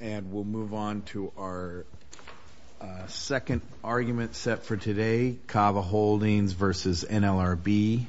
And we'll move on to our second argument set for today, Kava Holdings v. NLRB.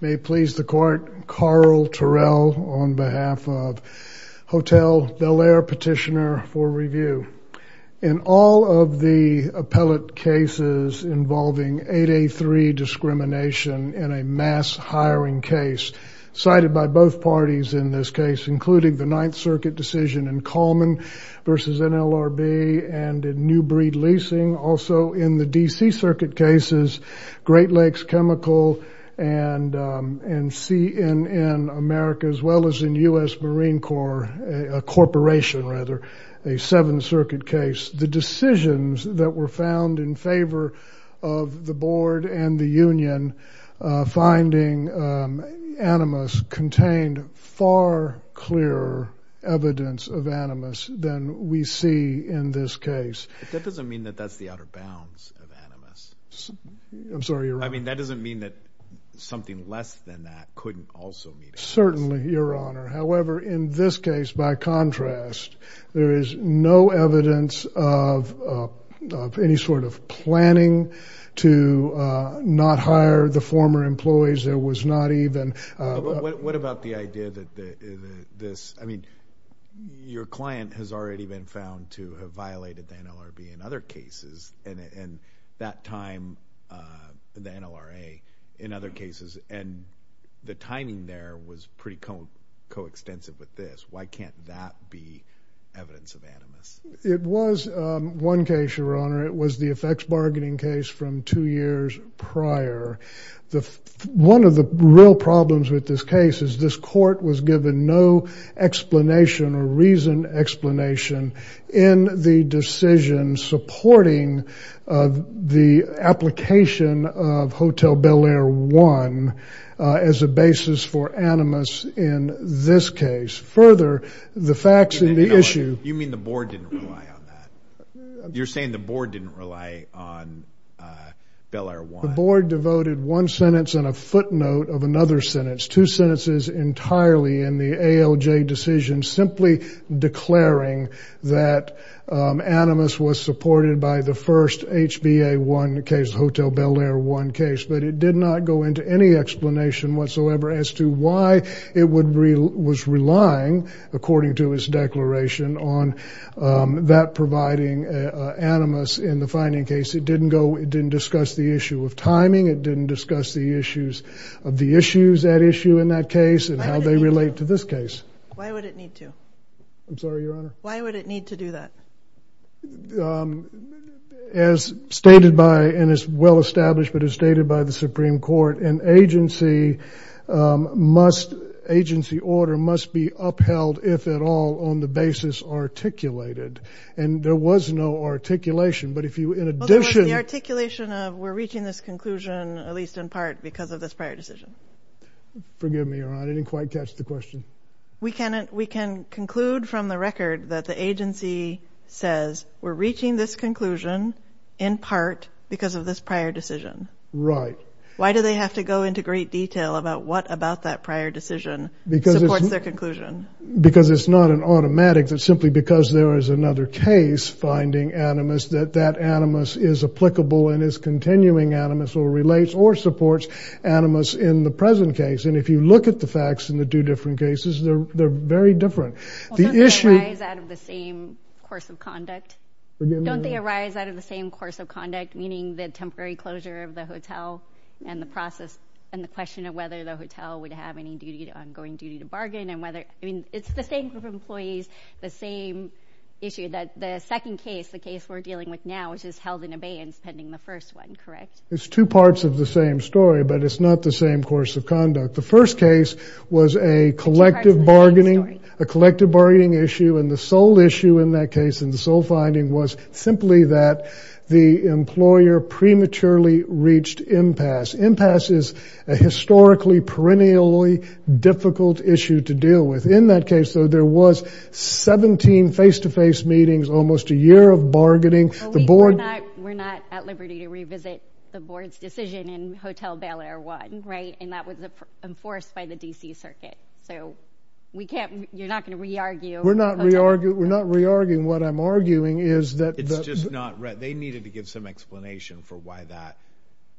May it please the Court, Carl Terrell on behalf of Hotel Bel Air Petitioner for review. In all of the appellate cases involving 8A3 discrimination in a mass hiring case, cited by both parties in this case, including the Ninth Circuit decision in Coleman v. NLRB and in New Breed Leasing, also in the D.C. Circuit cases, Great Lakes Chemical and CNN America, as well as in U.S. Marine Corps, a corporation rather, a seventh-circuit corporation. In the Ninth Circuit case, the decisions that were found in favor of the board and the union finding animus contained far clearer evidence of animus than we see in this case. But that doesn't mean that that's the outer bounds of animus. I'm sorry, Your Honor. I mean, that doesn't mean that something less than that couldn't also meet animus. Certainly, Your Honor. However, in this case, by contrast, there is no evidence of any sort of planning to not hire the former employees. But what about the idea that this – I mean, your client has already been found to have violated the NLRB in other cases, and that time the NLRA in other cases, and the timing there was pretty coextensive with this. Why can't that be evidence of animus? It was one case, Your Honor. It was the effects bargaining case from two years prior. One of the real problems with this case is this court was given no explanation or reasoned explanation in the decision supporting the application of Hotel Bel-Air One as a basis for animus in this case. Further, the facts in the issue – You mean the board didn't rely on that? You're saying the board didn't rely on Bel-Air One? The board devoted one sentence and a footnote of another sentence, two sentences entirely in the ALJ decision simply declaring that animus was supported by the first HBA One case, Hotel Bel-Air One case. But it did not go into any explanation whatsoever as to why it was relying, according to its declaration, on that providing animus in the finding case. It didn't discuss the issue of timing. It didn't discuss the issues of the issues at issue in that case and how they relate to this case. Why would it need to? I'm sorry, Your Honor? Why would it need to do that? As stated by – and it's well established, but as stated by the Supreme Court, an agency must – agency order must be upheld, if at all, on the basis articulated. And there was no articulation. But if you, in addition – Well, there was the articulation of we're reaching this conclusion, at least in part, because of this prior decision. Forgive me, Your Honor. I didn't quite catch the question. We can conclude from the record that the agency says we're reaching this conclusion, in part, because of this prior decision. Right. Why do they have to go into great detail about what about that prior decision supports their conclusion? Because it's not an automatic. It's simply because there is another case finding animus that that animus is applicable and is continuing animus or relates or supports animus in the present case. And if you look at the facts in the two different cases, they're very different. The issue – Well, don't they arise out of the same course of conduct? Forgive me, Your Honor. Don't they arise out of the same course of conduct, meaning the temporary closure of the hotel and the process and the question of whether the hotel would have any duty – ongoing duty to bargain and whether – I mean, it's the same group of employees, the same issue that the second case, the case we're dealing with now, which is held in abeyance pending the first one, correct? It's two parts of the same story, but it's not the same course of conduct. The first case was a collective bargaining issue, and the sole issue in that case and the sole finding was simply that the employer prematurely reached impasse. Impasse is a historically perennially difficult issue to deal with. In that case, though, there was 17 face-to-face meetings, almost a year of bargaining. We're not at liberty to revisit the board's decision in Hotel Bel Air 1, right? And that was enforced by the D.C. Circuit, so we can't – you're not going to re-argue – We're not re-arguing. What I'm arguing is that – It's just not – they needed to give some explanation for why that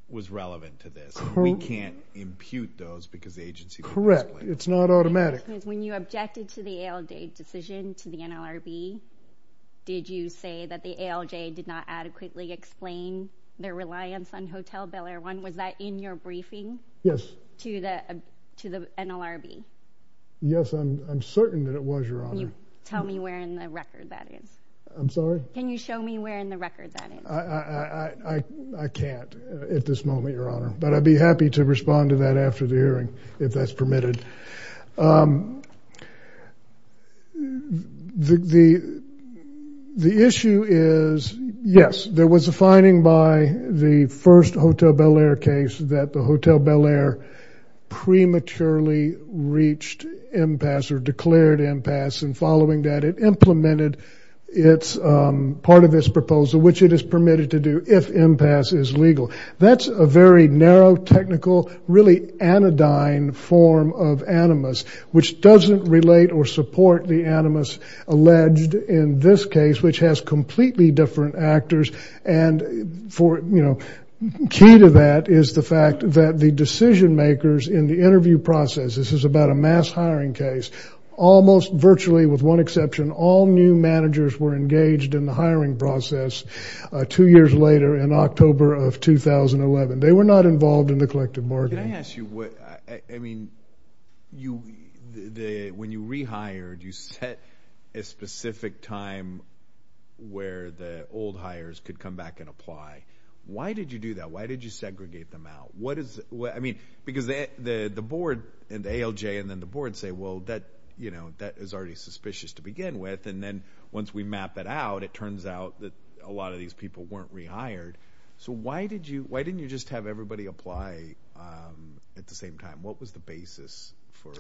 was relevant to this. We can't impute those because the agency – Correct. It's not automatic. When you objected to the ALJ decision to the NLRB, did you say that the ALJ did not adequately explain their reliance on Hotel Bel Air 1? Was that in your briefing? Yes. To the NLRB? Yes, I'm certain that it was, Your Honor. Can you tell me where in the record that is? I'm sorry? Can you show me where in the record that is? I can't at this moment, Your Honor, but I'd be happy to respond to that after the hearing if that's permitted. The issue is, yes, there was a finding by the first Hotel Bel Air case that the Hotel Bel Air prematurely reached impasse or declared impasse, and following that, it implemented part of its proposal, which it is permitted to do if impasse is legal. That's a very narrow, technical, really anodyne form of animus, which doesn't relate or support the animus alleged in this case, which has completely different actors, and key to that is the fact that the decision makers in the interview process – this is about a mass hiring case – almost virtually, with one exception, all new managers were engaged in the hiring process two years later in October of 2011. They were not involved in the collective bargaining. Can I ask you, when you rehired, you set a specific time where the old hires could come back and apply. Why did you do that? Why did you segregate them out? Because the ALJ and then the board say, well, that is already suspicious to begin with, and then once we map it out, it turns out that a lot of these people weren't rehired. So why didn't you just have everybody apply at the same time? What was the basis for it?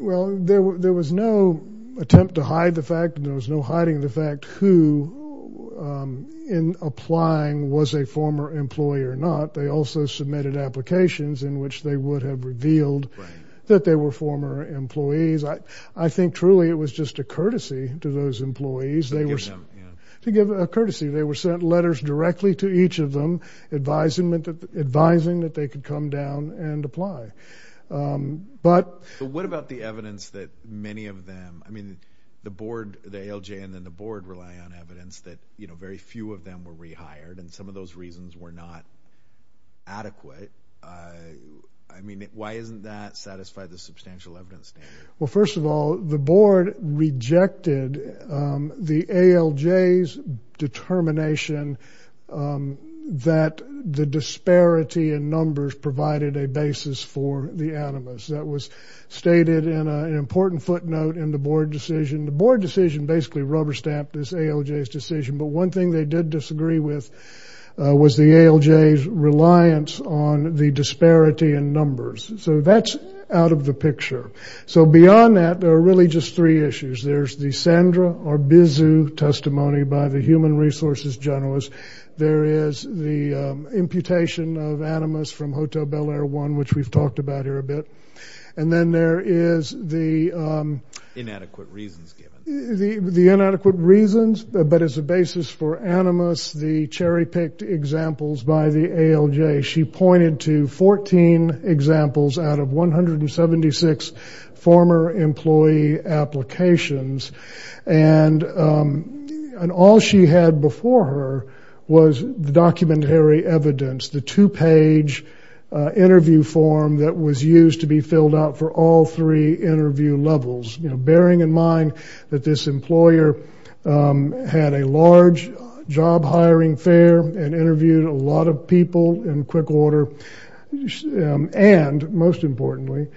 Well, there was no attempt to hide the fact, and there was no hiding the fact who, in applying, was a former employee or not. They also submitted applications in which they would have revealed that they were former employees. I think truly it was just a courtesy to those employees. To give them, yeah. To give a courtesy. They were sent letters directly to each of them advising that they could come down and apply. But what about the evidence that many of them – I mean, the board, the ALJ and then the board rely on evidence that, you know, very few of them were rehired, and some of those reasons were not adequate. I mean, why isn't that satisfied the substantial evidence standard? Well, first of all, the board rejected the ALJ's determination that the disparity in numbers provided a basis for the animus. That was stated in an important footnote in the board decision. The board decision basically rubber-stamped this ALJ's decision, but one thing they did disagree with was the ALJ's reliance on the disparity in numbers. So that's out of the picture. So beyond that, there are really just three issues. There's the Sandra Arbizu testimony by the Human Resources Generalist. There is the imputation of animus from Hotel Bel Air 1, which we've talked about here a bit. And then there is the – Inadequate reasons given. The inadequate reasons, but as a basis for animus, the cherry-picked examples by the ALJ. She pointed to 14 examples out of 176 former employee applications, and all she had before her was the documentary evidence, the two-page interview form that was used to be filled out for all three interview levels, bearing in mind that this employer had a large job hiring fair and interviewed a lot of people in quick order. And most importantly,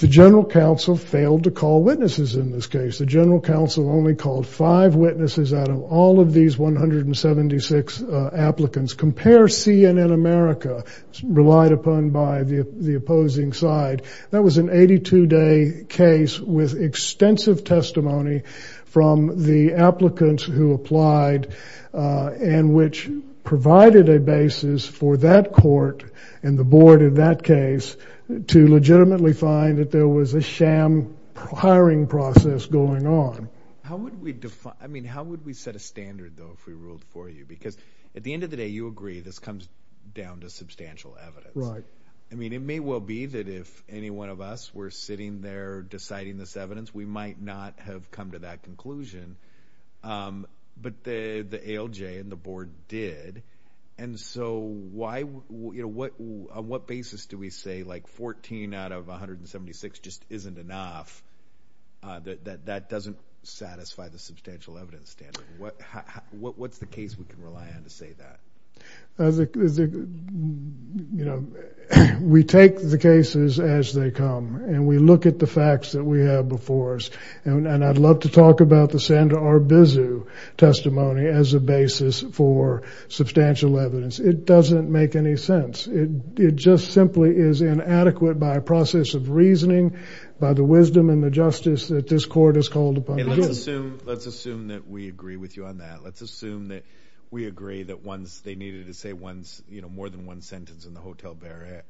the general counsel failed to call witnesses in this case. The general counsel only called five witnesses out of all of these 176 applicants. Compare CNN America, relied upon by the opposing side. That was an 82-day case with extensive testimony from the applicants who applied and which provided a basis for that court and the board in that case to legitimately find that there was a sham hiring process going on. How would we define – I mean, how would we set a standard, though, if we ruled for you? Because at the end of the day, you agree this comes down to substantial evidence. Right. I mean, it may well be that if any one of us were sitting there deciding this evidence, we might not have come to that conclusion, but the ALJ and the board did. And so why – on what basis do we say, like, 14 out of 176 just isn't enough, that that doesn't satisfy the substantial evidence standard? What's the case we can rely on to say that? You know, we take the cases as they come, and we look at the facts that we have before us. And I'd love to talk about the Sandra Arbizu testimony as a basis for substantial evidence. It doesn't make any sense. It just simply is inadequate by a process of reasoning, by the wisdom and the justice that this court has called upon. Let's assume that we agree with you on that. Let's assume that we agree that they needed to say more than one sentence in the Hotel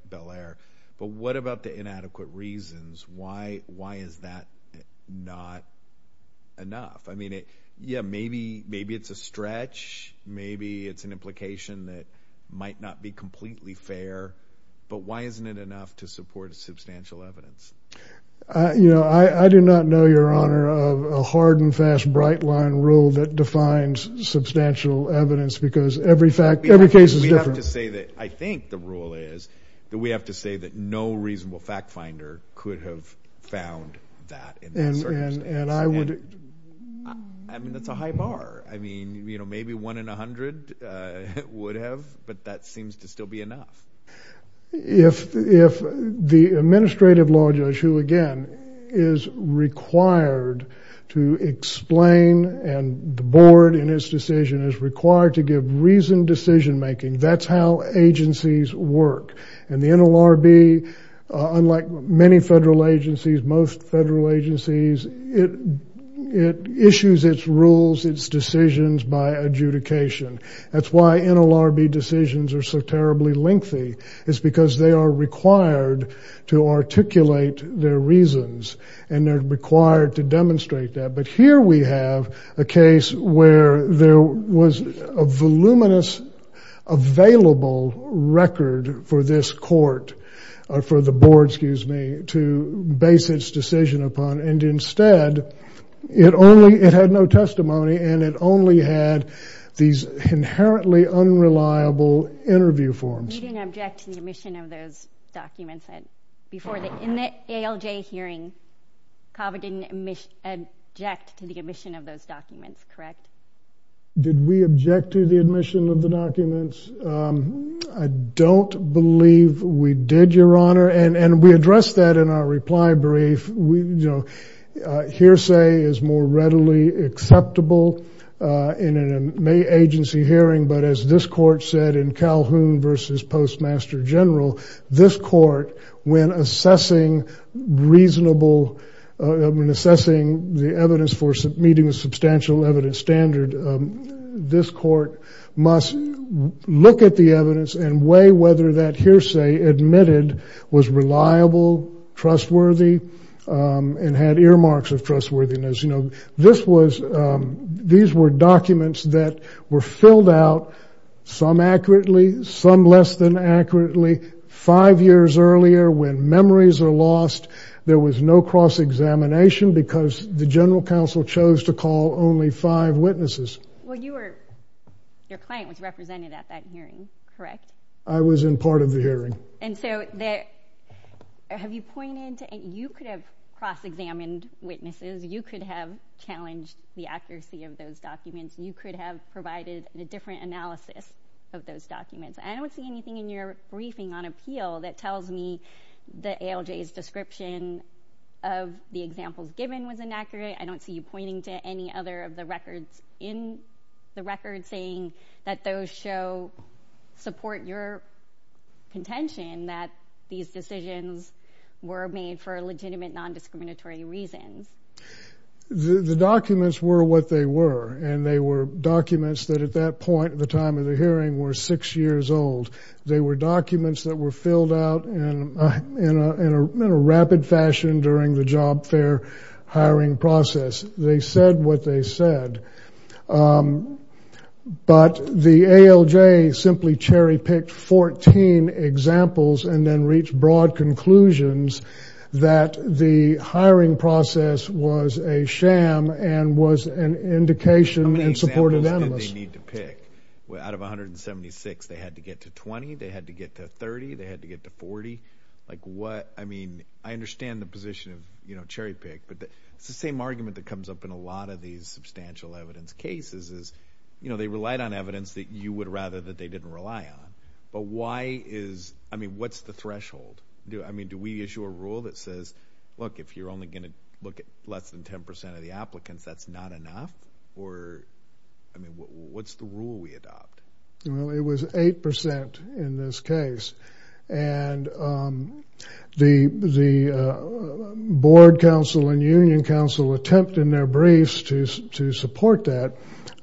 Bel-Air. But what about the inadequate reasons? Why is that not enough? I mean, yeah, maybe it's a stretch. Maybe it's an implication that might not be completely fair. But why isn't it enough to support a substantial evidence? You know, I do not know, Your Honor, a hard and fast bright-line rule that defines substantial evidence because every case is different. I have to say that I think the rule is that we have to say that no reasonable fact-finder could have found that in that circumstance. And I would... I mean, that's a high bar. I mean, you know, maybe one in a hundred would have, but that seems to still be enough. If the administrative law judge who, again, is required to explain and the board in its decision is required to give reasoned decision-making, that's how agencies work. And the NLRB, unlike many federal agencies, most federal agencies, it issues its rules, its decisions by adjudication. That's why NLRB decisions are so terribly lengthy. It's because they are required to articulate their reasons and they're required to demonstrate that. But here we have a case where there was a voluminous available record for this court, for the board, excuse me, to base its decision upon, and instead it had no testimony and it only had these inherently unreliable interview forms. We didn't object to the omission of those documents. In the ALJ hearing, CAVA didn't object to the omission of those documents, correct? Did we object to the omission of the documents? I don't believe we did, Your Honor. And we addressed that in our reply brief. Hearsay is more readily acceptable in an agency hearing, but as this court said in Calhoun v. Postmaster General, this court, when assessing the evidence for meeting the substantial evidence standard, this court must look at the evidence and weigh whether that hearsay admitted was reliable, trustworthy, and had earmarks of trustworthiness. These were documents that were filled out, some accurately, some less than accurately, five years earlier when memories are lost. There was no cross-examination because the general counsel chose to call only five witnesses. Well, your client was represented at that hearing, correct? I was in part of the hearing. And so have you pointed, you could have cross-examined witnesses, you could have challenged the accuracy of those documents, you could have provided a different analysis of those documents. I don't see anything in your briefing on appeal that tells me the ALJ's description of the examples given was inaccurate. I don't see you pointing to any other of the records in the record saying that those show support your contention that these decisions were made for legitimate non-discriminatory reasons. The documents were what they were. And they were documents that at that point, at the time of the hearing, were six years old. They were documents that were filled out in a rapid fashion during the job fair hiring process. They said what they said. But the ALJ simply cherry-picked 14 examples and then reached broad conclusions that the hiring process was a sham and was an indication and supported animus. How many examples did they need to pick? Out of 176, they had to get to 20, they had to get to 30, they had to get to 40. Like what, I mean, I understand the position of, you know, cherry-pick, but it's the same argument that comes up in a lot of these substantial evidence cases is, you know, they relied on evidence that you would rather that they didn't rely on. But why is, I mean, what's the threshold? I mean, do we issue a rule that says, look, if you're only going to look at less than 10% of the applicants, that's not enough? Or, I mean, what's the rule we adopt? Well, it was 8% in this case. And the board council and union council attempt in their briefs to support that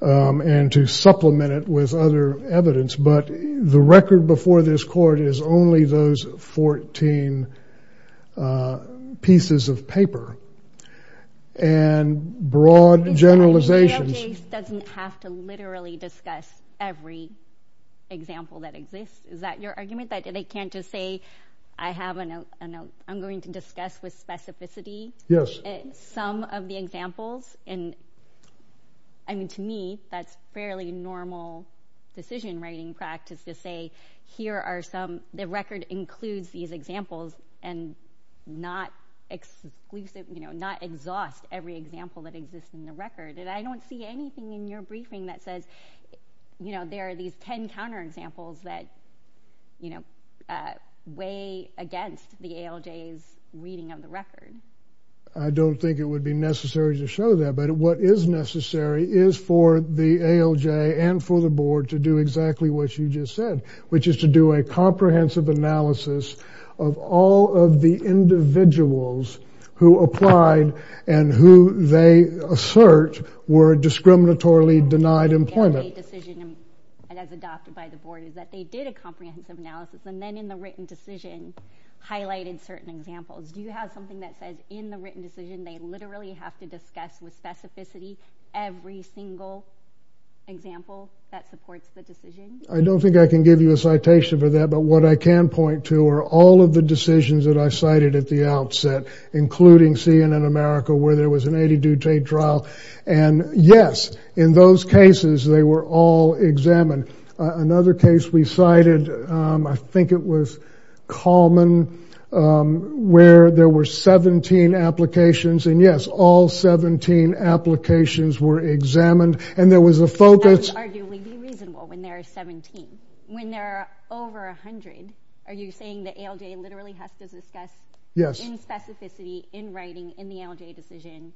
and to supplement it with other evidence. But the record before this court is only those 14 pieces of paper and broad generalizations. The FDA doesn't have to literally discuss every example that exists. Is that your argument, that they can't just say, I have a note, I'm going to discuss with specificity some of the examples? And, I mean, to me, that's fairly normal decision-writing practice to say, here are some, the record includes these examples, and not exhaust every example that exists in the record. And I don't see anything in your briefing that says, you know, there are these 10 counterexamples that weigh against the ALJ's reading of the record. I don't think it would be necessary to show that. But what is necessary is for the ALJ and for the board to do exactly what you just said, which is to do a comprehensive analysis of all of the individuals who applied and who they assert were discriminatorily denied employment. The ALJ decision, as adopted by the board, is that they did a comprehensive analysis and then in the written decision highlighted certain examples. Do you have something that says in the written decision they literally have to discuss with specificity every single example that supports the decision? I don't think I can give you a citation for that. But what I can point to are all of the decisions that I cited at the outset, including CNN America, where there was an 80-due-date trial. And, yes, in those cases, they were all examined. Another case we cited, I think it was Coleman, where there were 17 applications. And, yes, all 17 applications were examined. That would arguably be reasonable, when there are 17. When there are over 100, are you saying the ALJ literally has to discuss, in specificity, in writing, in the ALJ decision,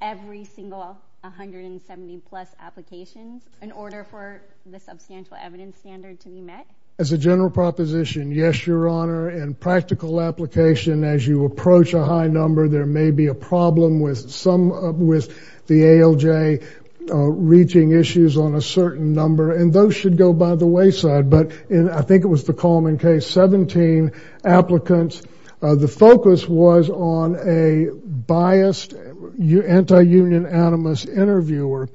every single 170-plus applications in order for the substantial evidence standard to be met? As a general proposition, yes, Your Honor. In practical application, as you approach a high number, there may be a problem with the ALJ reaching issues on a certain number. And those should go by the wayside. But I think it was the Coleman case, 17 applicants. The focus was on a biased, anti-union animus interviewer.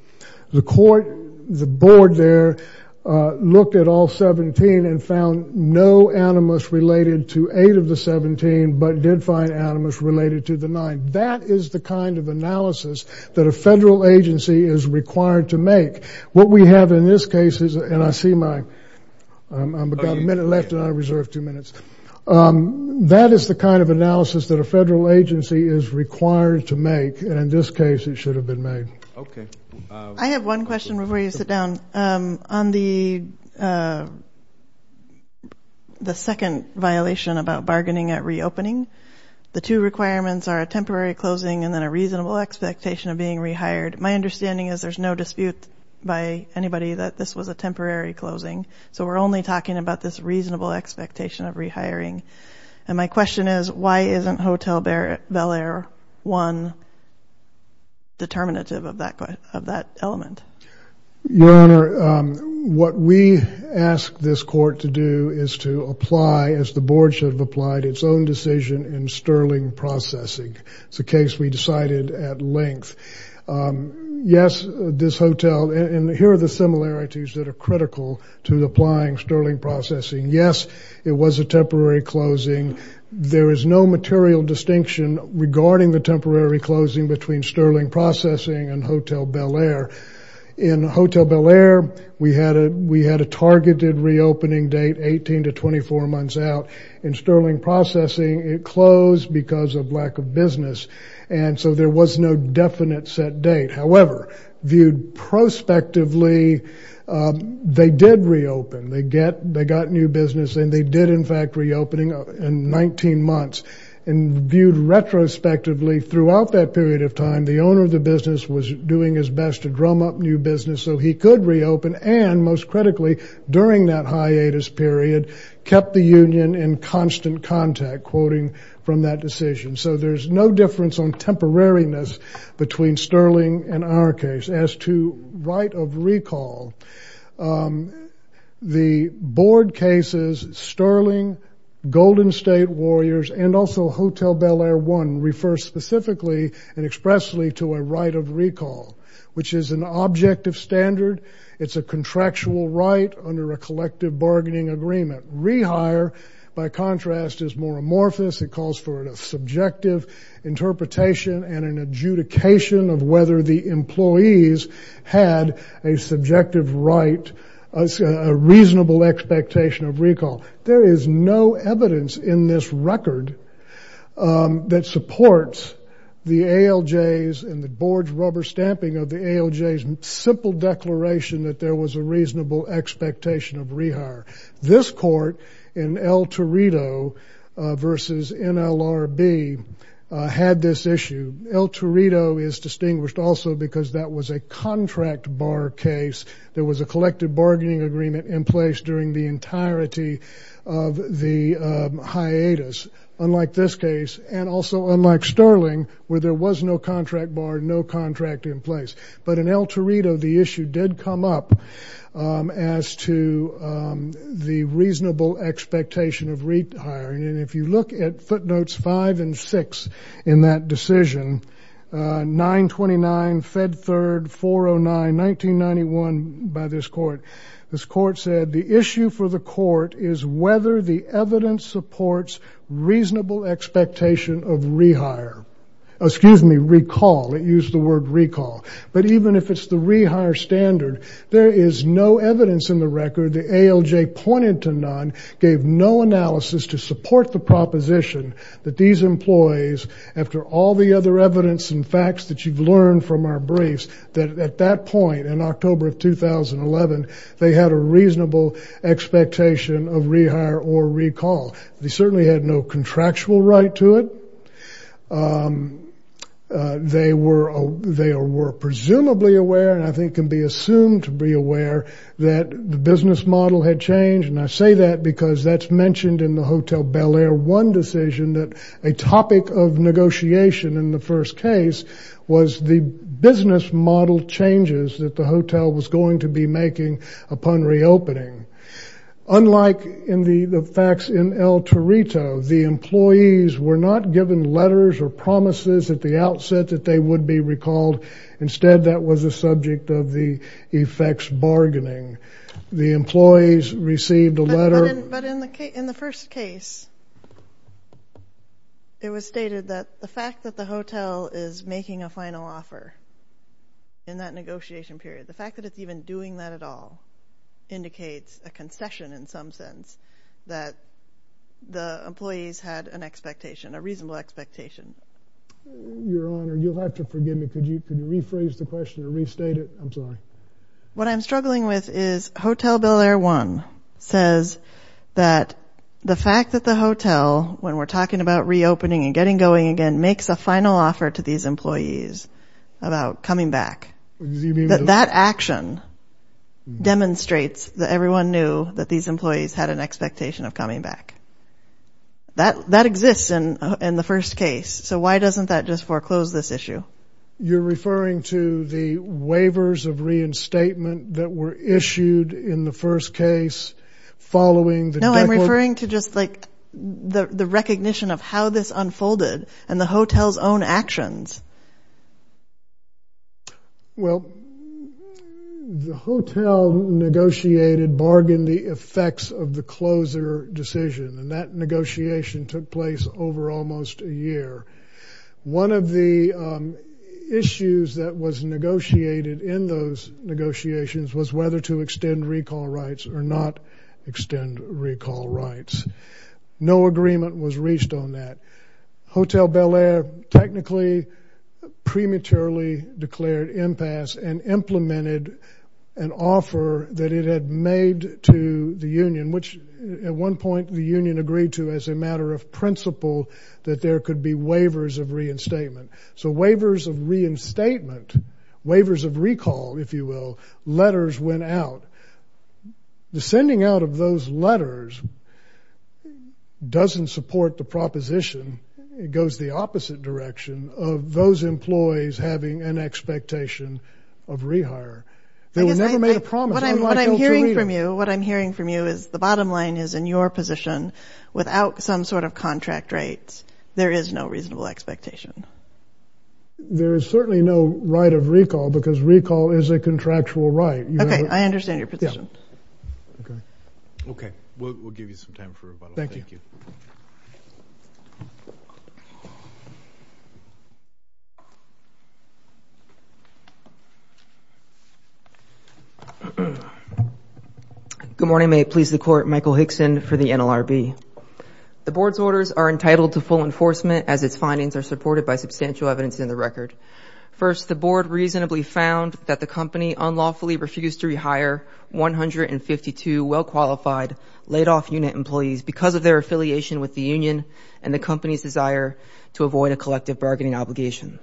The court, the board there, looked at all 17 and found no animus related to eight of the 17, but did find animus related to the nine. That is the kind of analysis that a federal agency is required to make. What we have in this case is, and I see my, I've got a minute left and I reserve two minutes. That is the kind of analysis that a federal agency is required to make. And in this case, it should have been made. Okay. I have one question before you sit down. On the second violation about bargaining at reopening, the two requirements are a temporary closing and then a reasonable expectation of being rehired. My understanding is there's no dispute by anybody that this was a temporary closing. So we're only talking about this reasonable expectation of rehiring. And my question is, why isn't Hotel Bel Air one determinative of that element? Your Honor, what we ask this court to do is to apply, as the board should have applied, its own decision in Sterling Processing. It's a case we decided at length. Yes, this hotel, and here are the similarities that are critical to applying Sterling Processing. Yes, it was a temporary closing. There is no material distinction regarding the temporary closing between Sterling Processing and Hotel Bel Air. In Hotel Bel Air, we had a targeted reopening date 18 to 24 months out. In Sterling Processing, it closed because of lack of business. And so there was no definite set date. However, viewed prospectively, they did reopen. They got new business, and they did, in fact, reopening in 19 months. And viewed retrospectively, throughout that period of time, the owner of the business was doing his best to drum up new business so he could reopen. And, most critically, during that hiatus period, kept the union in constant contact, quoting from that decision. So there's no difference on temporariness between Sterling and our case. As to right of recall, the board cases, Sterling, Golden State Warriors, and also Hotel Bel Air One, refer specifically and expressly to a right of recall, which is an objective standard. It's a contractual right under a collective bargaining agreement. Rehire, by contrast, is more amorphous. It calls for a subjective interpretation and an adjudication of whether the employees had a subjective right, a reasonable expectation of recall. There is no evidence in this record that supports the ALJs and the board's rubber stamping of the ALJs' simple declaration that there was a reasonable expectation of rehire. This court, in El Torito versus NLRB, had this issue. El Torito is distinguished also because that was a contract bar case. There was a collective bargaining agreement in place during the entirety of the hiatus, unlike this case, and also unlike Sterling, where there was no contract bar, no contract in place. But in El Torito, the issue did come up as to the reasonable expectation of rehiring. And if you look at footnotes five and six in that decision, 929, Fed Third, 409, 1991 by this court, this court said the issue for the court is whether the evidence supports reasonable expectation of rehire. Excuse me, recall, it used the word recall. But even if it's the rehire standard, there is no evidence in the record, the ALJ pointed to none, gave no analysis to support the proposition that these employees, after all the other evidence and facts that you've learned from our briefs, that at that point, in October of 2011, they had a reasonable expectation of rehire or recall. They certainly had no contractual right to it. They were presumably aware, and I think can be assumed to be aware, that the business model had changed. And I say that because that's mentioned in the Hotel Bel Air one decision that a topic of negotiation in the first case was the business model changes that the hotel was going to be making upon reopening. Unlike in the facts in El Torito, the employees were not given letters or promises at the outset that they would be recalled. Instead, that was the subject of the effects bargaining. The employees received a letter. But in the first case, it was stated that the fact that the hotel is making a final offer in that negotiation period, the fact that it's even doing that at all, indicates a concession in some sense that the employees had an expectation, a reasonable expectation. Your Honor, you'll have to forgive me. Could you rephrase the question or restate it? I'm sorry. What I'm struggling with is Hotel Bel Air one says that the fact that the hotel, when we're talking about reopening and getting going again, makes a final offer to these employees about coming back. That action demonstrates that everyone knew that these employees had an expectation of coming back. That exists in the first case. So why doesn't that just foreclose this issue? You're referring to the waivers of reinstatement that were issued in the first case following the declaration? No, I'm referring to just like the recognition of how this unfolded and the hotel's own actions. Well, the hotel negotiated, bargained the effects of the closer decision, and that negotiation took place over almost a year. One of the issues that was negotiated in those negotiations was whether to extend recall rights or not extend recall rights. No agreement was reached on that. Hotel Bel Air technically prematurely declared impasse and implemented an offer that it had made to the union, which at one point the union agreed to as a matter of principle that there could be waivers of reinstatement. So waivers of reinstatement, waivers of recall, if you will, letters went out. Descending out of those letters doesn't support the proposition. It goes the opposite direction of those employees having an expectation of rehire. They were never made a promise, unlike El Torito. What I'm hearing from you is the bottom line is in your position, without some sort of contract rights, there is no reasonable expectation. There is certainly no right of recall because recall is a contractual right. Okay. I understand your position. Okay. We'll give you some time for rebuttal. Thank you. Good morning. May it please the Court, Michael Hickson for the NLRB. The Board's orders are entitled to full enforcement as its findings are supported by substantial evidence in the record. First, the Board reasonably found that the company unlawfully refused to rehire 152 well-qualified laid-off unit employees because of their affiliation with the union and the company's desire to avoid a collective bargaining obligation.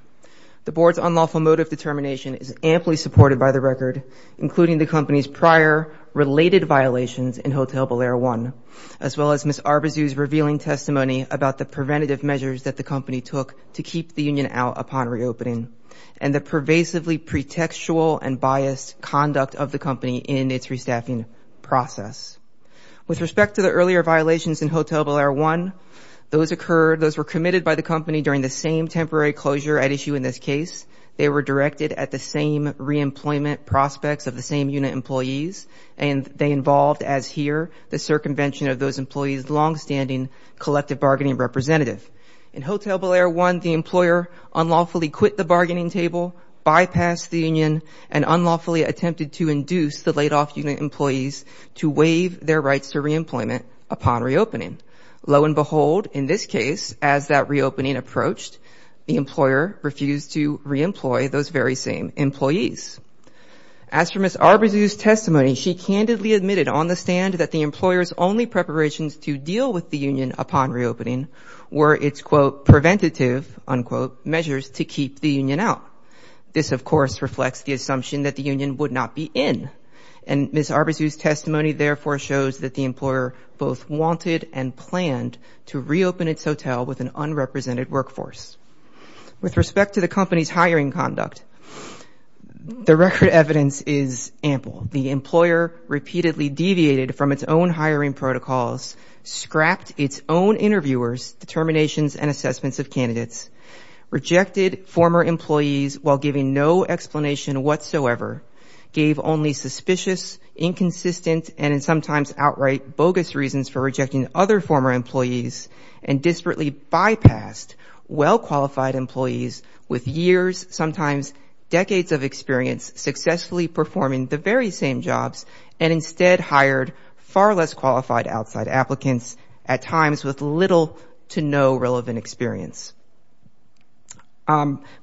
The Board's unlawful motive determination is amply supported by the record, including the company's prior related violations in Hotel Bel Air 1, as well as Ms. Arbazue's revealing testimony about the preventative measures that the company took to keep the union out upon reopening, and the pervasively pretextual and biased conduct of the company in its restaffing process. With respect to the earlier violations in Hotel Bel Air 1, those occurred, those were committed by the company during the same temporary closure at issue in this case. They were directed at the same reemployment prospects of the same unit employees, and they involved, as here, the circumvention of those employees' longstanding collective bargaining representative. In Hotel Bel Air 1, the employer unlawfully quit the bargaining table, bypassed the union, and unlawfully attempted to induce the laid-off unit employees to waive their rights to reemployment upon reopening. Lo and behold, in this case, as that reopening approached, the employer refused to reemploy those very same employees. As for Ms. Arbazue's testimony, she candidly admitted on the stand that the employer's only preparations to deal with the union upon reopening were its, quote, preventative, unquote, measures to keep the union out. This, of course, reflects the assumption that the union would not be in, and Ms. Arbazue's testimony, therefore, shows that the employer both wanted and planned to reopen its hotel with an unrepresented workforce. With respect to the company's hiring conduct, the record evidence is ample. The employer repeatedly deviated from its own hiring protocols, scrapped its own interviewers' determinations and assessments of candidates, rejected former employees while giving no explanation whatsoever, gave only suspicious, inconsistent, and sometimes outright bogus reasons for rejecting other former employees, and desperately bypassed well-qualified employees with years, sometimes decades of experience successfully performing the very same jobs, and instead hired far less qualified outside applicants at times with little to no relevant experience.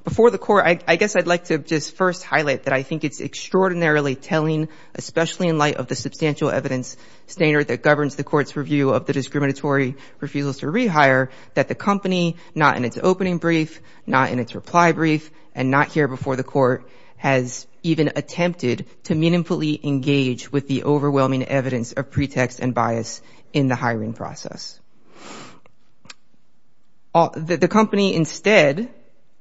Before the court, I guess I'd like to just first highlight that I think it's extraordinarily telling, especially in light of the substantial evidence standard that governs the court's review of the discriminatory refusals to rehire, that the company, not in its opening brief, not in its reply brief, and not here before the court, has even attempted to meaningfully engage with the overwhelming evidence of pretext and bias in the hiring process. The company instead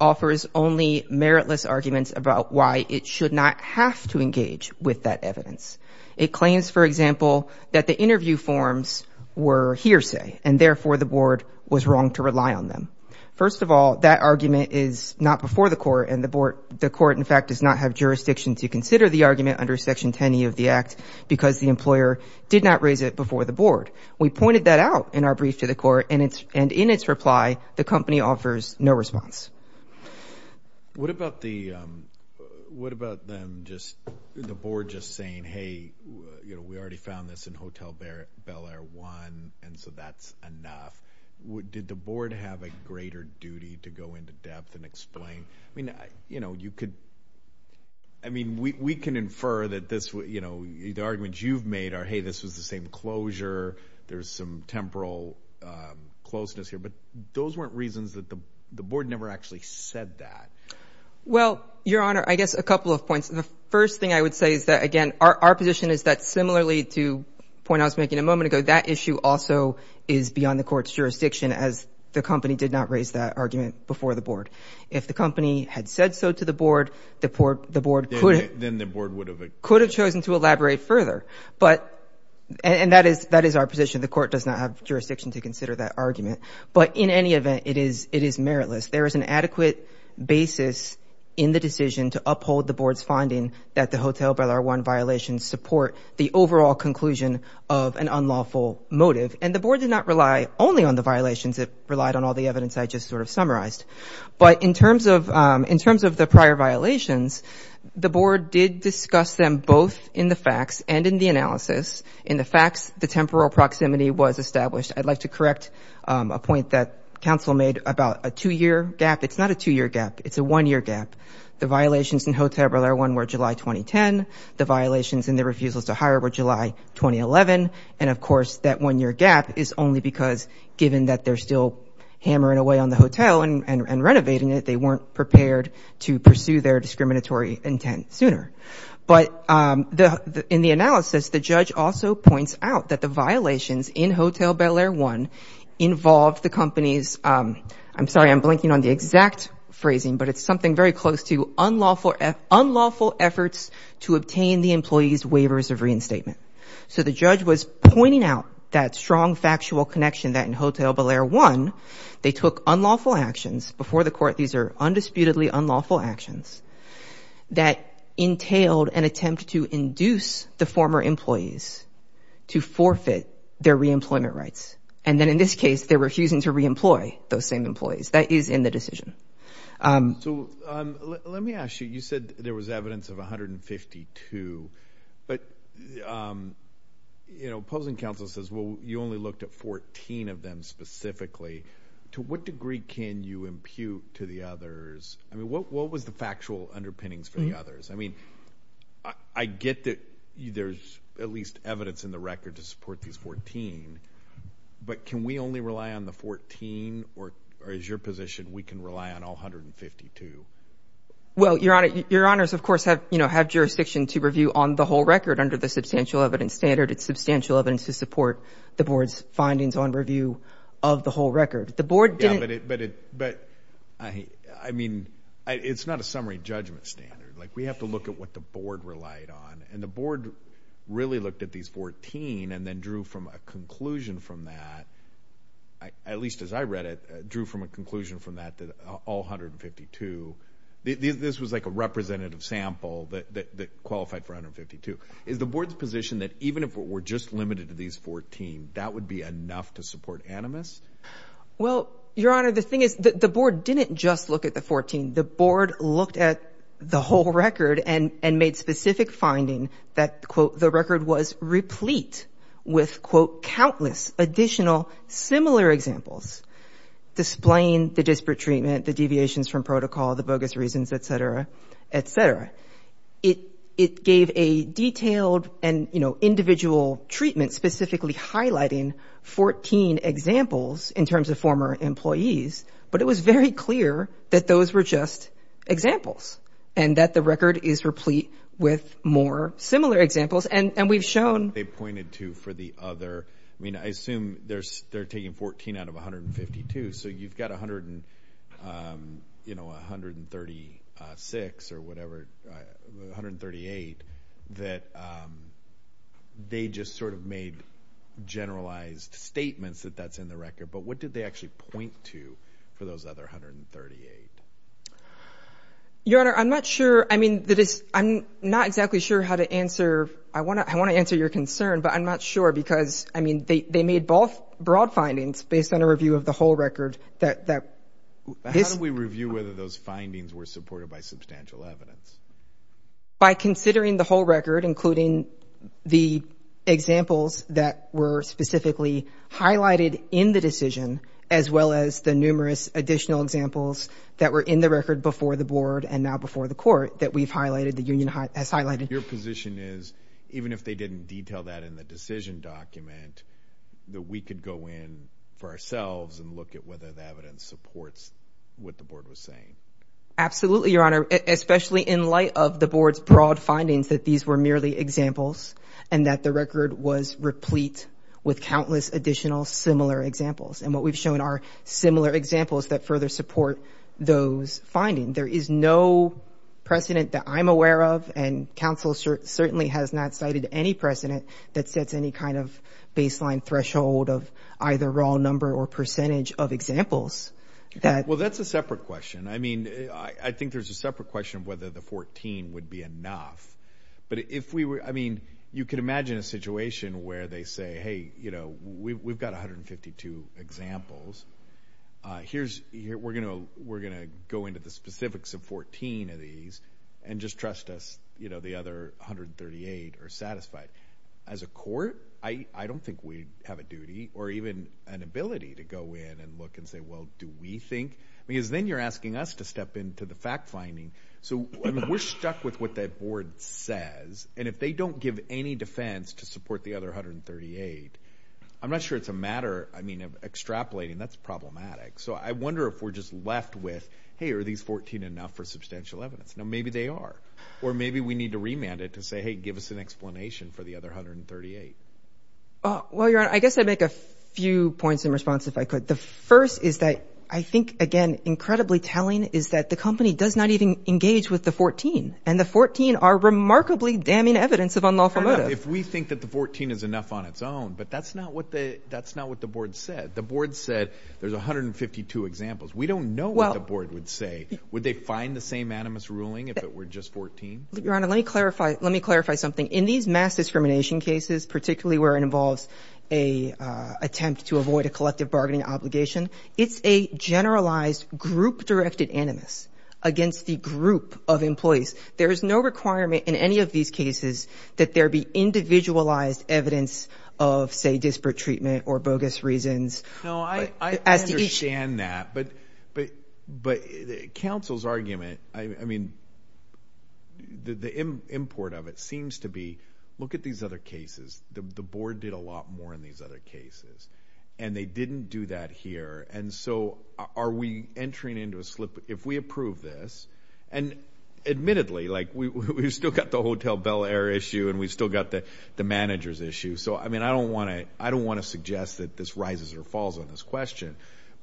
offers only meritless arguments about why it should not have to engage with that evidence. It claims, for example, that the interview forms were hearsay, and therefore the board was wrong to rely on them. First of all, that argument is not before the court, and the court, in fact, does not have jurisdiction to consider the argument under Section 10e of the Act because the employer did not raise it before the board. We pointed that out in our brief to the court, and in its reply, the company offers no response. What about the board just saying, hey, we already found this in Hotel Bel Air 1, and so that's enough? Did the board have a greater duty to go into depth and explain? I mean, we can infer that the arguments you've made are, hey, this was the same closure, there's some temporal closeness here, but those weren't reasons that the board never actually said that. Well, Your Honor, I guess a couple of points. The first thing I would say is that, again, our position is that similarly to the point I was making a moment ago, that issue also is beyond the court's jurisdiction as the company did not raise that argument before the board. If the company had said so to the board, the board could have chosen to elaborate further. And that is our position. The court does not have jurisdiction to consider that argument. But in any event, it is meritless. There is an adequate basis in the decision to uphold the board's finding that the Hotel Bel Air 1 violations support the overall conclusion of an unlawful motive, and the board did not rely only on the violations. It relied on all the evidence I just sort of summarized. But in terms of the prior violations, the board did discuss them both in the facts and in the analysis. In the facts, the temporal proximity was established. I'd like to correct a point that counsel made about a two-year gap. It's not a two-year gap. It's a one-year gap. The violations in Hotel Bel Air 1 were July 2010. The violations in the refusals to hire were July 2011. And, of course, that one-year gap is only because, given that they're still hammering away on the hotel and renovating it, they weren't prepared to pursue their discriminatory intent sooner. But in the analysis, the judge also points out that the violations in Hotel Bel Air 1 involved the company's I'm sorry, I'm blinking on the exact phrasing, but it's something very close to unlawful efforts to obtain the employee's waivers of reinstatement. So the judge was pointing out that strong factual connection that, in Hotel Bel Air 1, they took unlawful actions before the court. These are undisputedly unlawful actions that entailed an attempt to induce the former employees to forfeit their reemployment rights. And then, in this case, they're refusing to reemploy those same employees. That is in the decision. So let me ask you, you said there was evidence of 152. But, you know, opposing counsel says, well, you only looked at 14 of them specifically. To what degree can you impute to the others? I mean, what was the factual underpinnings for the others? I mean, I get that there's at least evidence in the record to support these 14. But can we only rely on the 14? Or is your position we can rely on all 152? Well, Your Honor, your honors, of course, have jurisdiction to review on the whole record under the substantial evidence standard. It's substantial evidence to support the board's findings on review of the whole record. The board didn't. But, I mean, it's not a summary judgment standard. Like, we have to look at what the board relied on. And the board really looked at these 14 and then drew from a conclusion from that, at least as I read it, drew from a conclusion from that that all 152, this was like a representative sample that qualified for 152. Is the board's position that even if it were just limited to these 14, that would be enough to support Animus? Well, Your Honor, the thing is the board didn't just look at the 14. The board looked at the whole record and made specific finding that, quote, the record was replete with, quote, countless additional similar examples displaying the disparate treatment, the deviations from protocol, the bogus reasons, et cetera, et cetera. It gave a detailed and, you know, individual treatment specifically highlighting 14 examples in terms of former employees. But it was very clear that those were just examples and that the record is replete with more similar examples. And we've shown. They pointed to for the other. I mean, I assume they're taking 14 out of 152. So you've got, you know, 136 or whatever, 138 that they just sort of made generalized statements that that's in the record. But what did they actually point to for those other 138? Your Honor, I'm not sure. I mean, I'm not exactly sure how to answer. I want to answer your concern, but I'm not sure because, I mean, they made both broad findings based on a review of the whole record that. How do we review whether those findings were supported by substantial evidence? By considering the whole record, including the examples that were specifically highlighted in the decision, as well as the numerous additional examples that were in the record before the board and now before the court that we've highlighted, the union has highlighted. Your position is, even if they didn't detail that in the decision document, that we could go in for ourselves and look at whether the evidence supports what the board was saying. Absolutely, Your Honor, especially in light of the board's broad findings that these were merely examples and that the record was replete with countless additional similar examples. And what we've shown are similar examples that further support those findings. There is no precedent that I'm aware of, and counsel certainly has not cited any precedent that sets any kind of baseline threshold of either raw number or percentage of examples. Well, that's a separate question. I mean, I think there's a separate question of whether the 14 would be enough. But if we were – I mean, you could imagine a situation where they say, hey, you know, we've got 152 examples. Here's – we're going to go into the specifics of 14 of these and just trust us, you know, the other 138 are satisfied. As a court, I don't think we have a duty or even an ability to go in and look and say, well, do we think – because then you're asking us to step into the fact-finding. So we're stuck with what that board says, and if they don't give any defense to support the other 138, I'm not sure it's a matter, I mean, of extrapolating. That's problematic. So I wonder if we're just left with, hey, are these 14 enough for substantial evidence? Now, maybe they are. Or maybe we need to remand it to say, hey, give us an explanation for the other 138. Well, Your Honor, I guess I'd make a few points in response if I could. The first is that I think, again, incredibly telling is that the company does not even engage with the 14, and the 14 are remarkably damning evidence of unlawful motive. I don't know if we think that the 14 is enough on its own, but that's not what the board said. The board said there's 152 examples. We don't know what the board would say. Would they find the same animus ruling if it were just 14? Your Honor, let me clarify something. In these mass discrimination cases, particularly where it involves an attempt to avoid a collective bargaining obligation, it's a generalized group-directed animus against the group of employees. There is no requirement in any of these cases that there be individualized evidence of, say, disparate treatment or bogus reasons. No, I understand that. But counsel's argument, I mean, the import of it seems to be look at these other cases. The board did a lot more in these other cases, and they didn't do that here. And so are we entering into a slip? If we approve this, and admittedly, like, we've still got the Hotel Bel Air issue, and we've still got the managers issue, so, I mean, I don't want to suggest that this rises or falls on this question.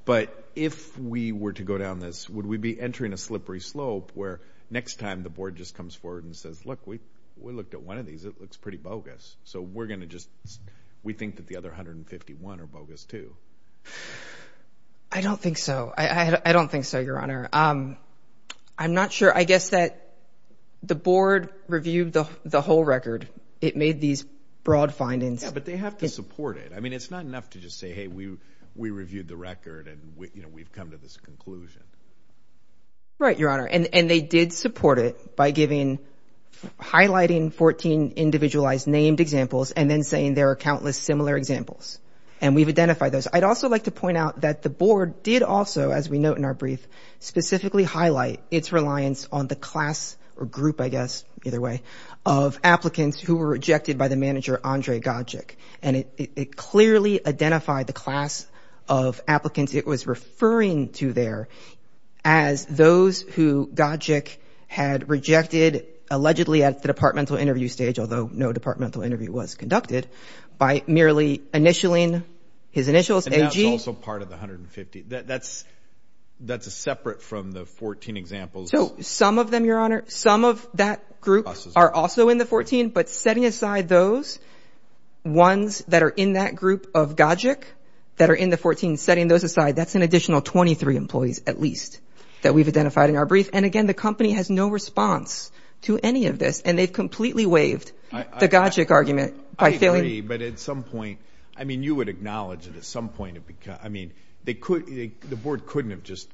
But if we were to go down this, would we be entering a slippery slope where next time the board just comes forward and says, look, we looked at one of these. It looks pretty bogus. So we're going to just, we think that the other 151 are bogus too. I don't think so. I don't think so, Your Honor. I'm not sure. I guess that the board reviewed the whole record. It made these broad findings. Yeah, but they have to support it. I mean, it's not enough to just say, hey, we reviewed the record, and, you know, we've come to this conclusion. Right, Your Honor. And they did support it by giving, highlighting 14 individualized named examples and then saying there are countless similar examples. And we've identified those. I'd also like to point out that the board did also, as we note in our brief, specifically highlight its reliance on the class or group, I guess, either way, of applicants who were rejected by the manager, Andre Godjic. And it clearly identified the class of applicants it was referring to there as those who Godjic had rejected allegedly at the departmental interview stage, although no departmental interview was conducted, by merely initialing his initials, AG. And that's also part of the 150. That's separate from the 14 examples. So some of them, Your Honor, some of that group are also in the 14, but setting aside those ones that are in that group of Godjic that are in the 14, setting those aside, that's an additional 23 employees at least that we've identified in our brief. And, again, the company has no response to any of this, and they've completely waived the Godjic argument by failing. I agree, but at some point, I mean, you would acknowledge that at some point, I mean, the board couldn't have just,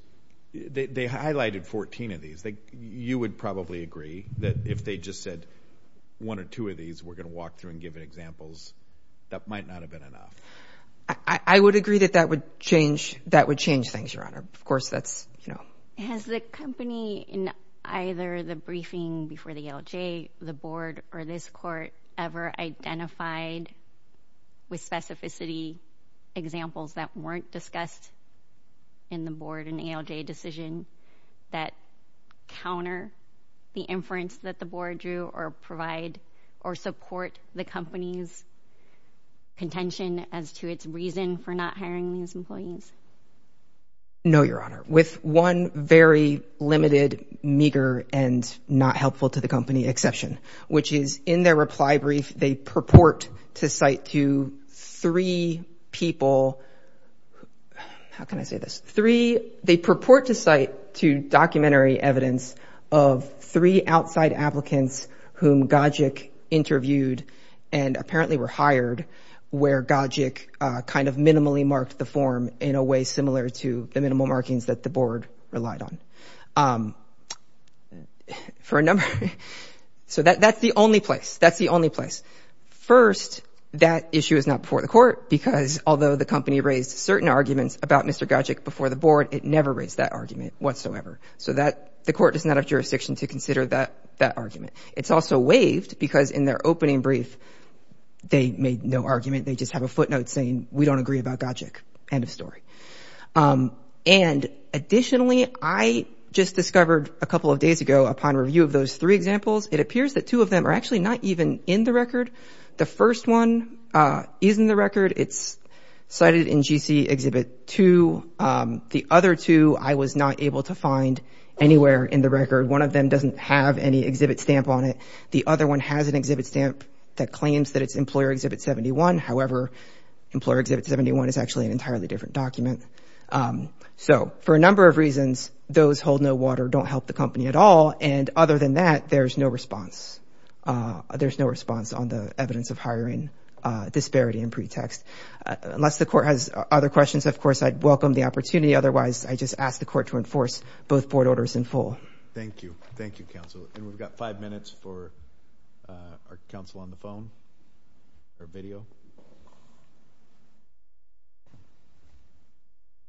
they highlighted 14 of these. You would probably agree that if they just said one or two of these, we're going to walk through and give examples, that might not have been enough. I would agree that that would change things, Your Honor. Of course, that's, you know. Has the company in either the briefing before the ALJ, the board, or this court ever identified with specificity examples that weren't discussed in the board or an ALJ decision that counter the inference that the board drew or provide or support the company's contention as to its reason for not hiring these employees? No, Your Honor. With one very limited, meager, and not helpful to the company exception, which is in their reply brief, they purport to cite to three people, how can I say this, three, they purport to cite to documentary evidence of three outside applicants whom Godjic interviewed and apparently were hired where Godjic kind of minimally marked the form in a way similar to the minimal markings that the board relied on. For a number, so that's the only place. That's the only place. First, that issue is not before the court because although the company raised certain arguments about Mr. Godjic before the board, it never raised that argument whatsoever. So the court does not have jurisdiction to consider that argument. It's also waived because in their opening brief, they made no argument. They just have a footnote saying, we don't agree about Godjic. End of story. And additionally, I just discovered a couple of days ago upon review of those three examples, it appears that two of them are actually not even in the record. The first one is in the record. It's cited in GC Exhibit 2. The other two I was not able to find anywhere in the record. One of them doesn't have any exhibit stamp on it. The other one has an exhibit stamp that claims that it's Employer Exhibit 71. However, Employer Exhibit 71 is actually an entirely different document. So for a number of reasons, those hold no water, don't help the company at all. And other than that, there's no response. There's no response on the evidence of hiring disparity in pretext. Unless the court has other questions, of course, I'd welcome the opportunity. Otherwise, I just ask the court to enforce both board orders in full. Thank you. Thank you, counsel. And we've got five minutes for our counsel on the phone or video.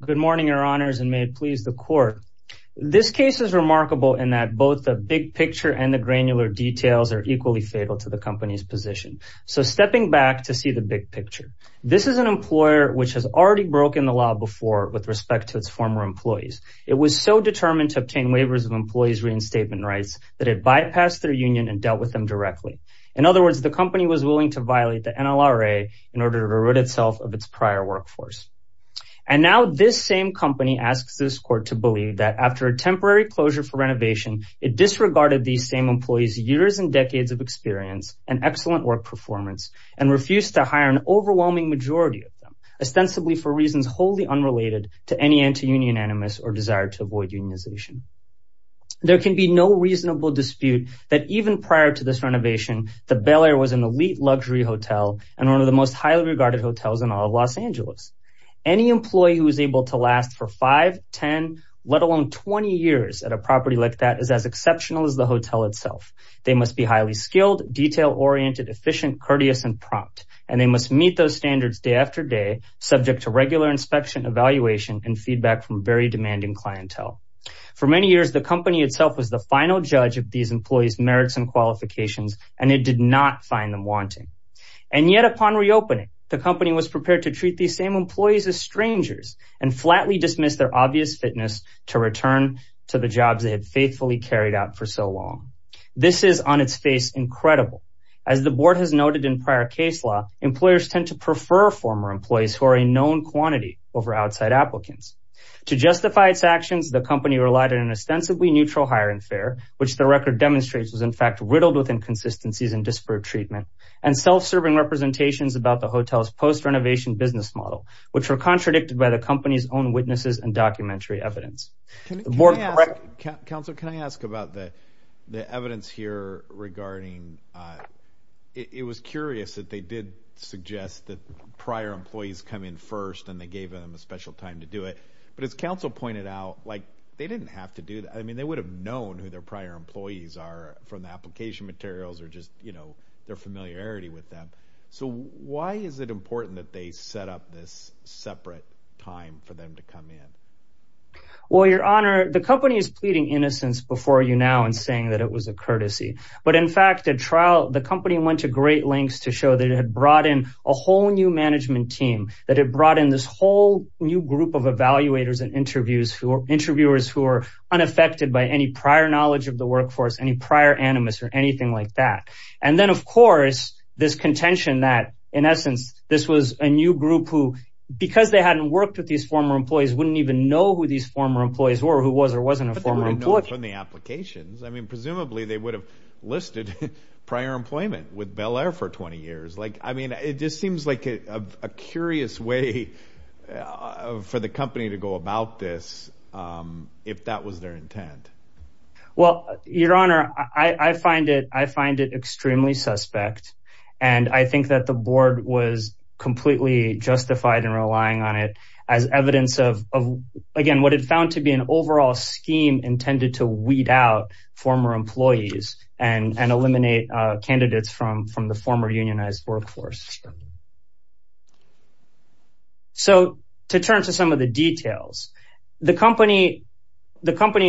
Good morning, Your Honors, and may it please the court. This case is remarkable in that both the big picture and the granular details are equally fatal to the company's position. So stepping back to see the big picture. This is an employer which has already broken the law before with respect to its former employees. It was so determined to obtain waivers of employees' reinstatement rights that it bypassed their union and dealt with them directly. In other words, the company was willing to violate the NLRA in order to rid itself of its prior workforce. And now this same company asks this court to believe that after a temporary closure for renovation, it disregarded these same employees' years and decades of experience and excellent work performance and refused to hire an overwhelming majority of them, ostensibly for reasons wholly unrelated to any anti-union animus or desire to avoid unionization. There can be no reasonable dispute that even prior to this renovation, the Bel Air was an elite luxury hotel and one of the most highly regarded hotels in all of Los Angeles. Any employee who is able to last for 5, 10, let alone 20 years at a property like that is as exceptional as the hotel itself. They must be highly skilled, detail-oriented, efficient, courteous, and prompt, and they must meet those standards day after day, subject to regular inspection, evaluation, and feedback from a very demanding clientele. For many years, the company itself was the final judge of these employees' merits and qualifications, and it did not find them wanting. And yet, upon reopening, the company was prepared to treat these same employees as strangers and flatly dismiss their obvious fitness to return to the jobs they had faithfully carried out for so long. This is, on its face, incredible. As the Board has noted in prior case law, employers tend to prefer former employees who are a known quantity over outside applicants. To justify its actions, the company relied on an ostensibly neutral hiring fare, which the record demonstrates was in fact riddled with inconsistencies and disparate treatment, and self-serving representations about the hotel's post-renovation business model, which were contradicted by the company's own witnesses and documentary evidence. The Board corrects... Can I ask, Counsel, can I ask about the evidence here regarding... It was curious that they did suggest that prior employees come in first and they gave them a special time to do it, but as Counsel pointed out, like, they didn't have to do that. I mean, they would have known who their prior employees are from the application materials or just, you know, their familiarity with them. So why is it important that they set up this separate time for them to come in? Well, Your Honor, the company is pleading innocence before you now in saying that it was a courtesy. But in fact, the company went to great lengths to show that it had brought in a whole new management team, that it brought in this whole new group of evaluators and interviewers who are unaffected by any prior knowledge of the workforce, any prior animus or anything like that. And then, of course, this contention that, in essence, this was a new group who, because they hadn't worked with these former employees, wouldn't even know who these former employees were, who was or wasn't a former employee. But they wouldn't know from the applications. I mean, presumably they would have listed prior employment with Bel Air for 20 years. Like, I mean, it just seems like a curious way for the company to go about this if that was their intent. Well, Your Honor, I find it extremely suspect. And I think that the board was completely justified in relying on it as evidence of, again, what it found to be an overall scheme intended to weed out former employees and eliminate candidates from the former unionized workforce. So to turn to some of the details, the company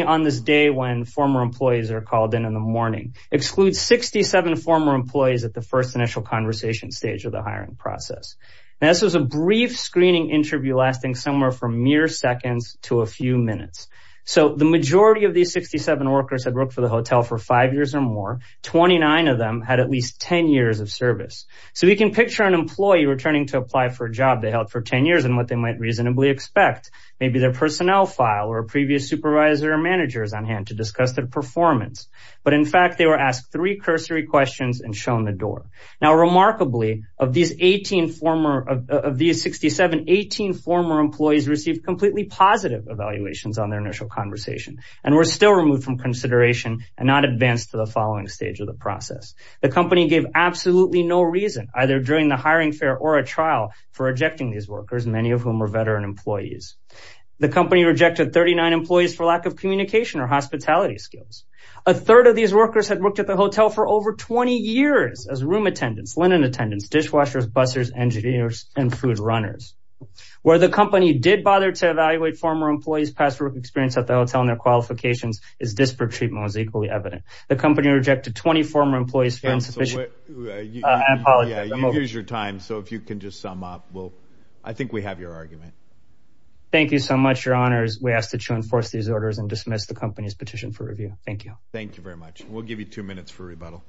on this day when former employees are called in in the morning excludes 67 former employees at the first initial conversation stage of the hiring process. Now, this was a brief screening interview lasting somewhere from mere seconds to a few minutes. So the majority of these 67 workers had worked for the hotel for five years or more. Twenty-nine of them had at least 10 years of service. So we can picture an employee returning to apply for a job they held for 10 years and what they might reasonably expect. Maybe their personnel file or a previous supervisor or manager is on hand to discuss their performance. But in fact, they were asked three cursory questions and shown the door. Now, remarkably, of these 67, 18 former employees received completely positive evaluations on their initial conversation and were still removed from consideration and not advanced to the following stage of the process. The company gave absolutely no reason, either during the hiring fair or at trial, for rejecting these workers, many of whom were veteran employees. The company rejected 39 employees for lack of communication or hospitality skills. A third of these workers had worked at the hotel for over 20 years as room attendants, linen attendants, dishwashers, bussers, engineers, and food runners. Where the company did bother to evaluate former employees' past work experience at the hotel and their qualifications as disparate treatment was equally evident. The company rejected 20 former employees for insufficient... I apologize. I'm over. Well, I think we have your argument. Thank you so much, Your Honors. We ask that you enforce these orders and dismiss the company's petition for review. Thank you. Thank you very much. We'll give you two minutes for rebuttal.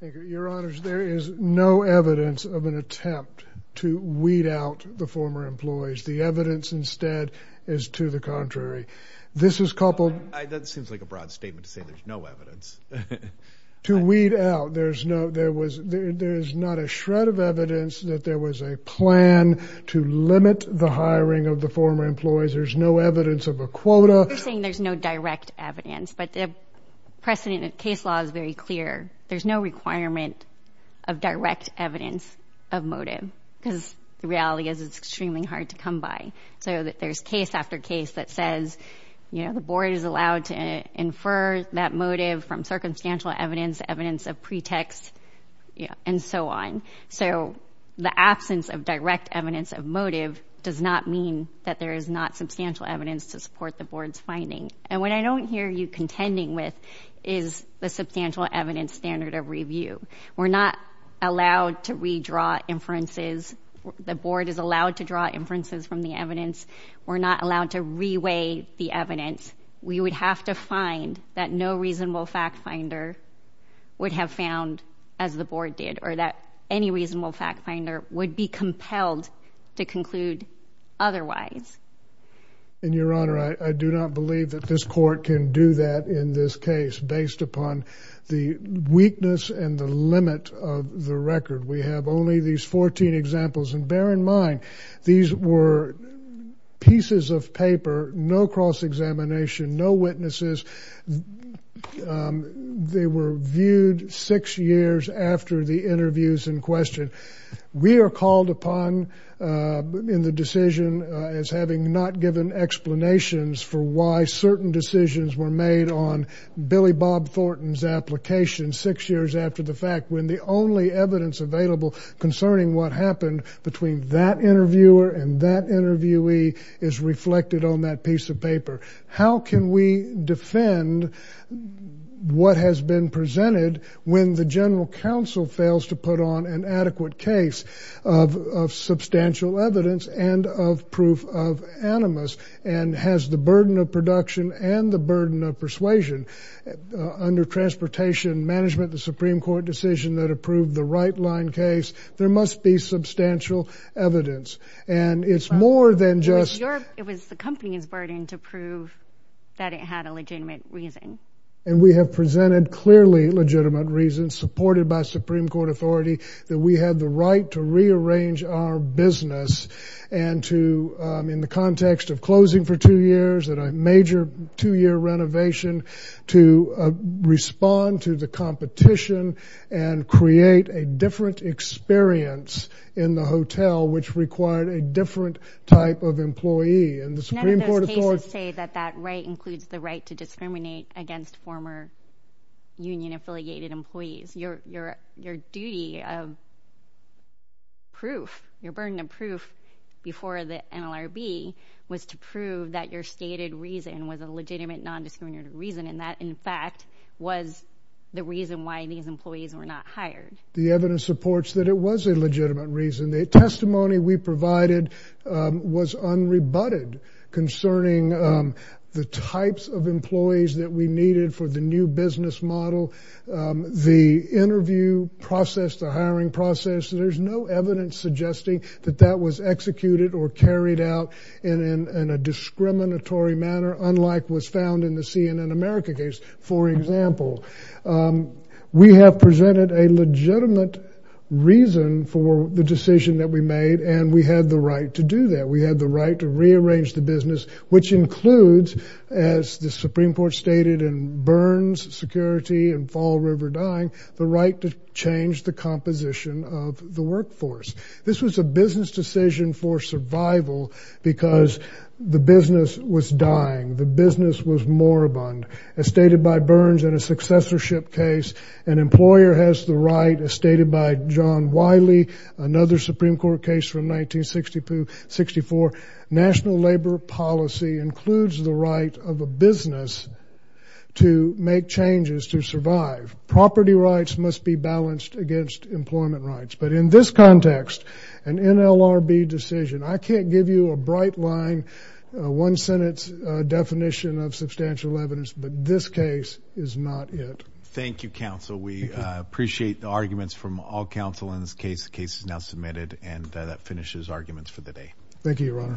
Your Honors, there is no evidence of an attempt to weed out the former employees. The evidence instead is to the contrary. This is coupled... That seems like a broad statement to say there's no evidence. To weed out, there's no... There was a plan to limit the hiring of the former employees. There's no evidence of a quota. You're saying there's no direct evidence, but the precedent of case law is very clear. There's no requirement of direct evidence of motive because the reality is it's extremely hard to come by. So there's case after case that says, you know, the board is allowed to infer that motive from circumstantial evidence, evidence of pretext, and so on. So the absence of direct evidence of motive does not mean that there is not substantial evidence to support the board's finding. And what I don't hear you contending with is the substantial evidence standard of review. We're not allowed to redraw inferences. The board is allowed to draw inferences from the evidence. We're not allowed to reweigh the evidence. We would have to find that no reasonable fact finder would have found as the board did or that any reasonable fact finder would be compelled to conclude otherwise. And, Your Honor, I do not believe that this court can do that in this case based upon the weakness and the limit of the record. We have only these 14 examples. And bear in mind, these were pieces of paper, no cross-examination, no witnesses. They were viewed six years after the interviews in question. We are called upon in the decision as having not given explanations for why certain decisions were made on Billy Bob Thornton's application six years after the fact when the only evidence available concerning what happened between that interviewer and that interviewee is reflected on that piece of paper. How can we defend what has been presented when the general counsel fails to put on an adequate case of substantial evidence and of proof of animus and has the burden of production and the burden of persuasion? Under transportation management, the Supreme Court decision that approved the right-line case, there must be substantial evidence. And it's more than just... that it had a legitimate reason. And we have presented clearly legitimate reasons supported by Supreme Court authority that we have the right to rearrange our business and to, in the context of closing for two years and a major two-year renovation, to respond to the competition which required a different type of employee. None of those cases say that that right includes the right to discriminate against former union-affiliated employees. Your duty of proof, your burden of proof before the NLRB was to prove that your stated reason was a legitimate non-discriminatory reason and that, in fact, was the reason why these employees were not hired. The evidence supports that it was a legitimate reason. The testimony we provided was unrebutted concerning the types of employees that we needed for the new business model, the interview process, the hiring process. There's no evidence suggesting that that was executed or carried out in a discriminatory manner, unlike what's found in the CNN America case, for example. We have presented a legitimate reason for the decision that we made, and we had the right to do that. We had the right to rearrange the business, which includes, as the Supreme Court stated in Burns Security and Fall River Dying, the right to change the composition of the workforce. This was a business decision for survival because the business was dying. The business was moribund. As stated by Burns in a successorship case, an employer has the right, as stated by John Wiley, another Supreme Court case from 1964, national labor policy includes the right of a business to make changes to survive. Property rights must be balanced against employment rights. But in this context, an NLRB decision, I can't give you a bright-line, one-sentence definition of substantial evidence, but this case is not it. Thank you, Counsel. We appreciate the arguments from all counsel in this case. The case is now submitted, and that finishes arguments for the day. Thank you, Your Honor.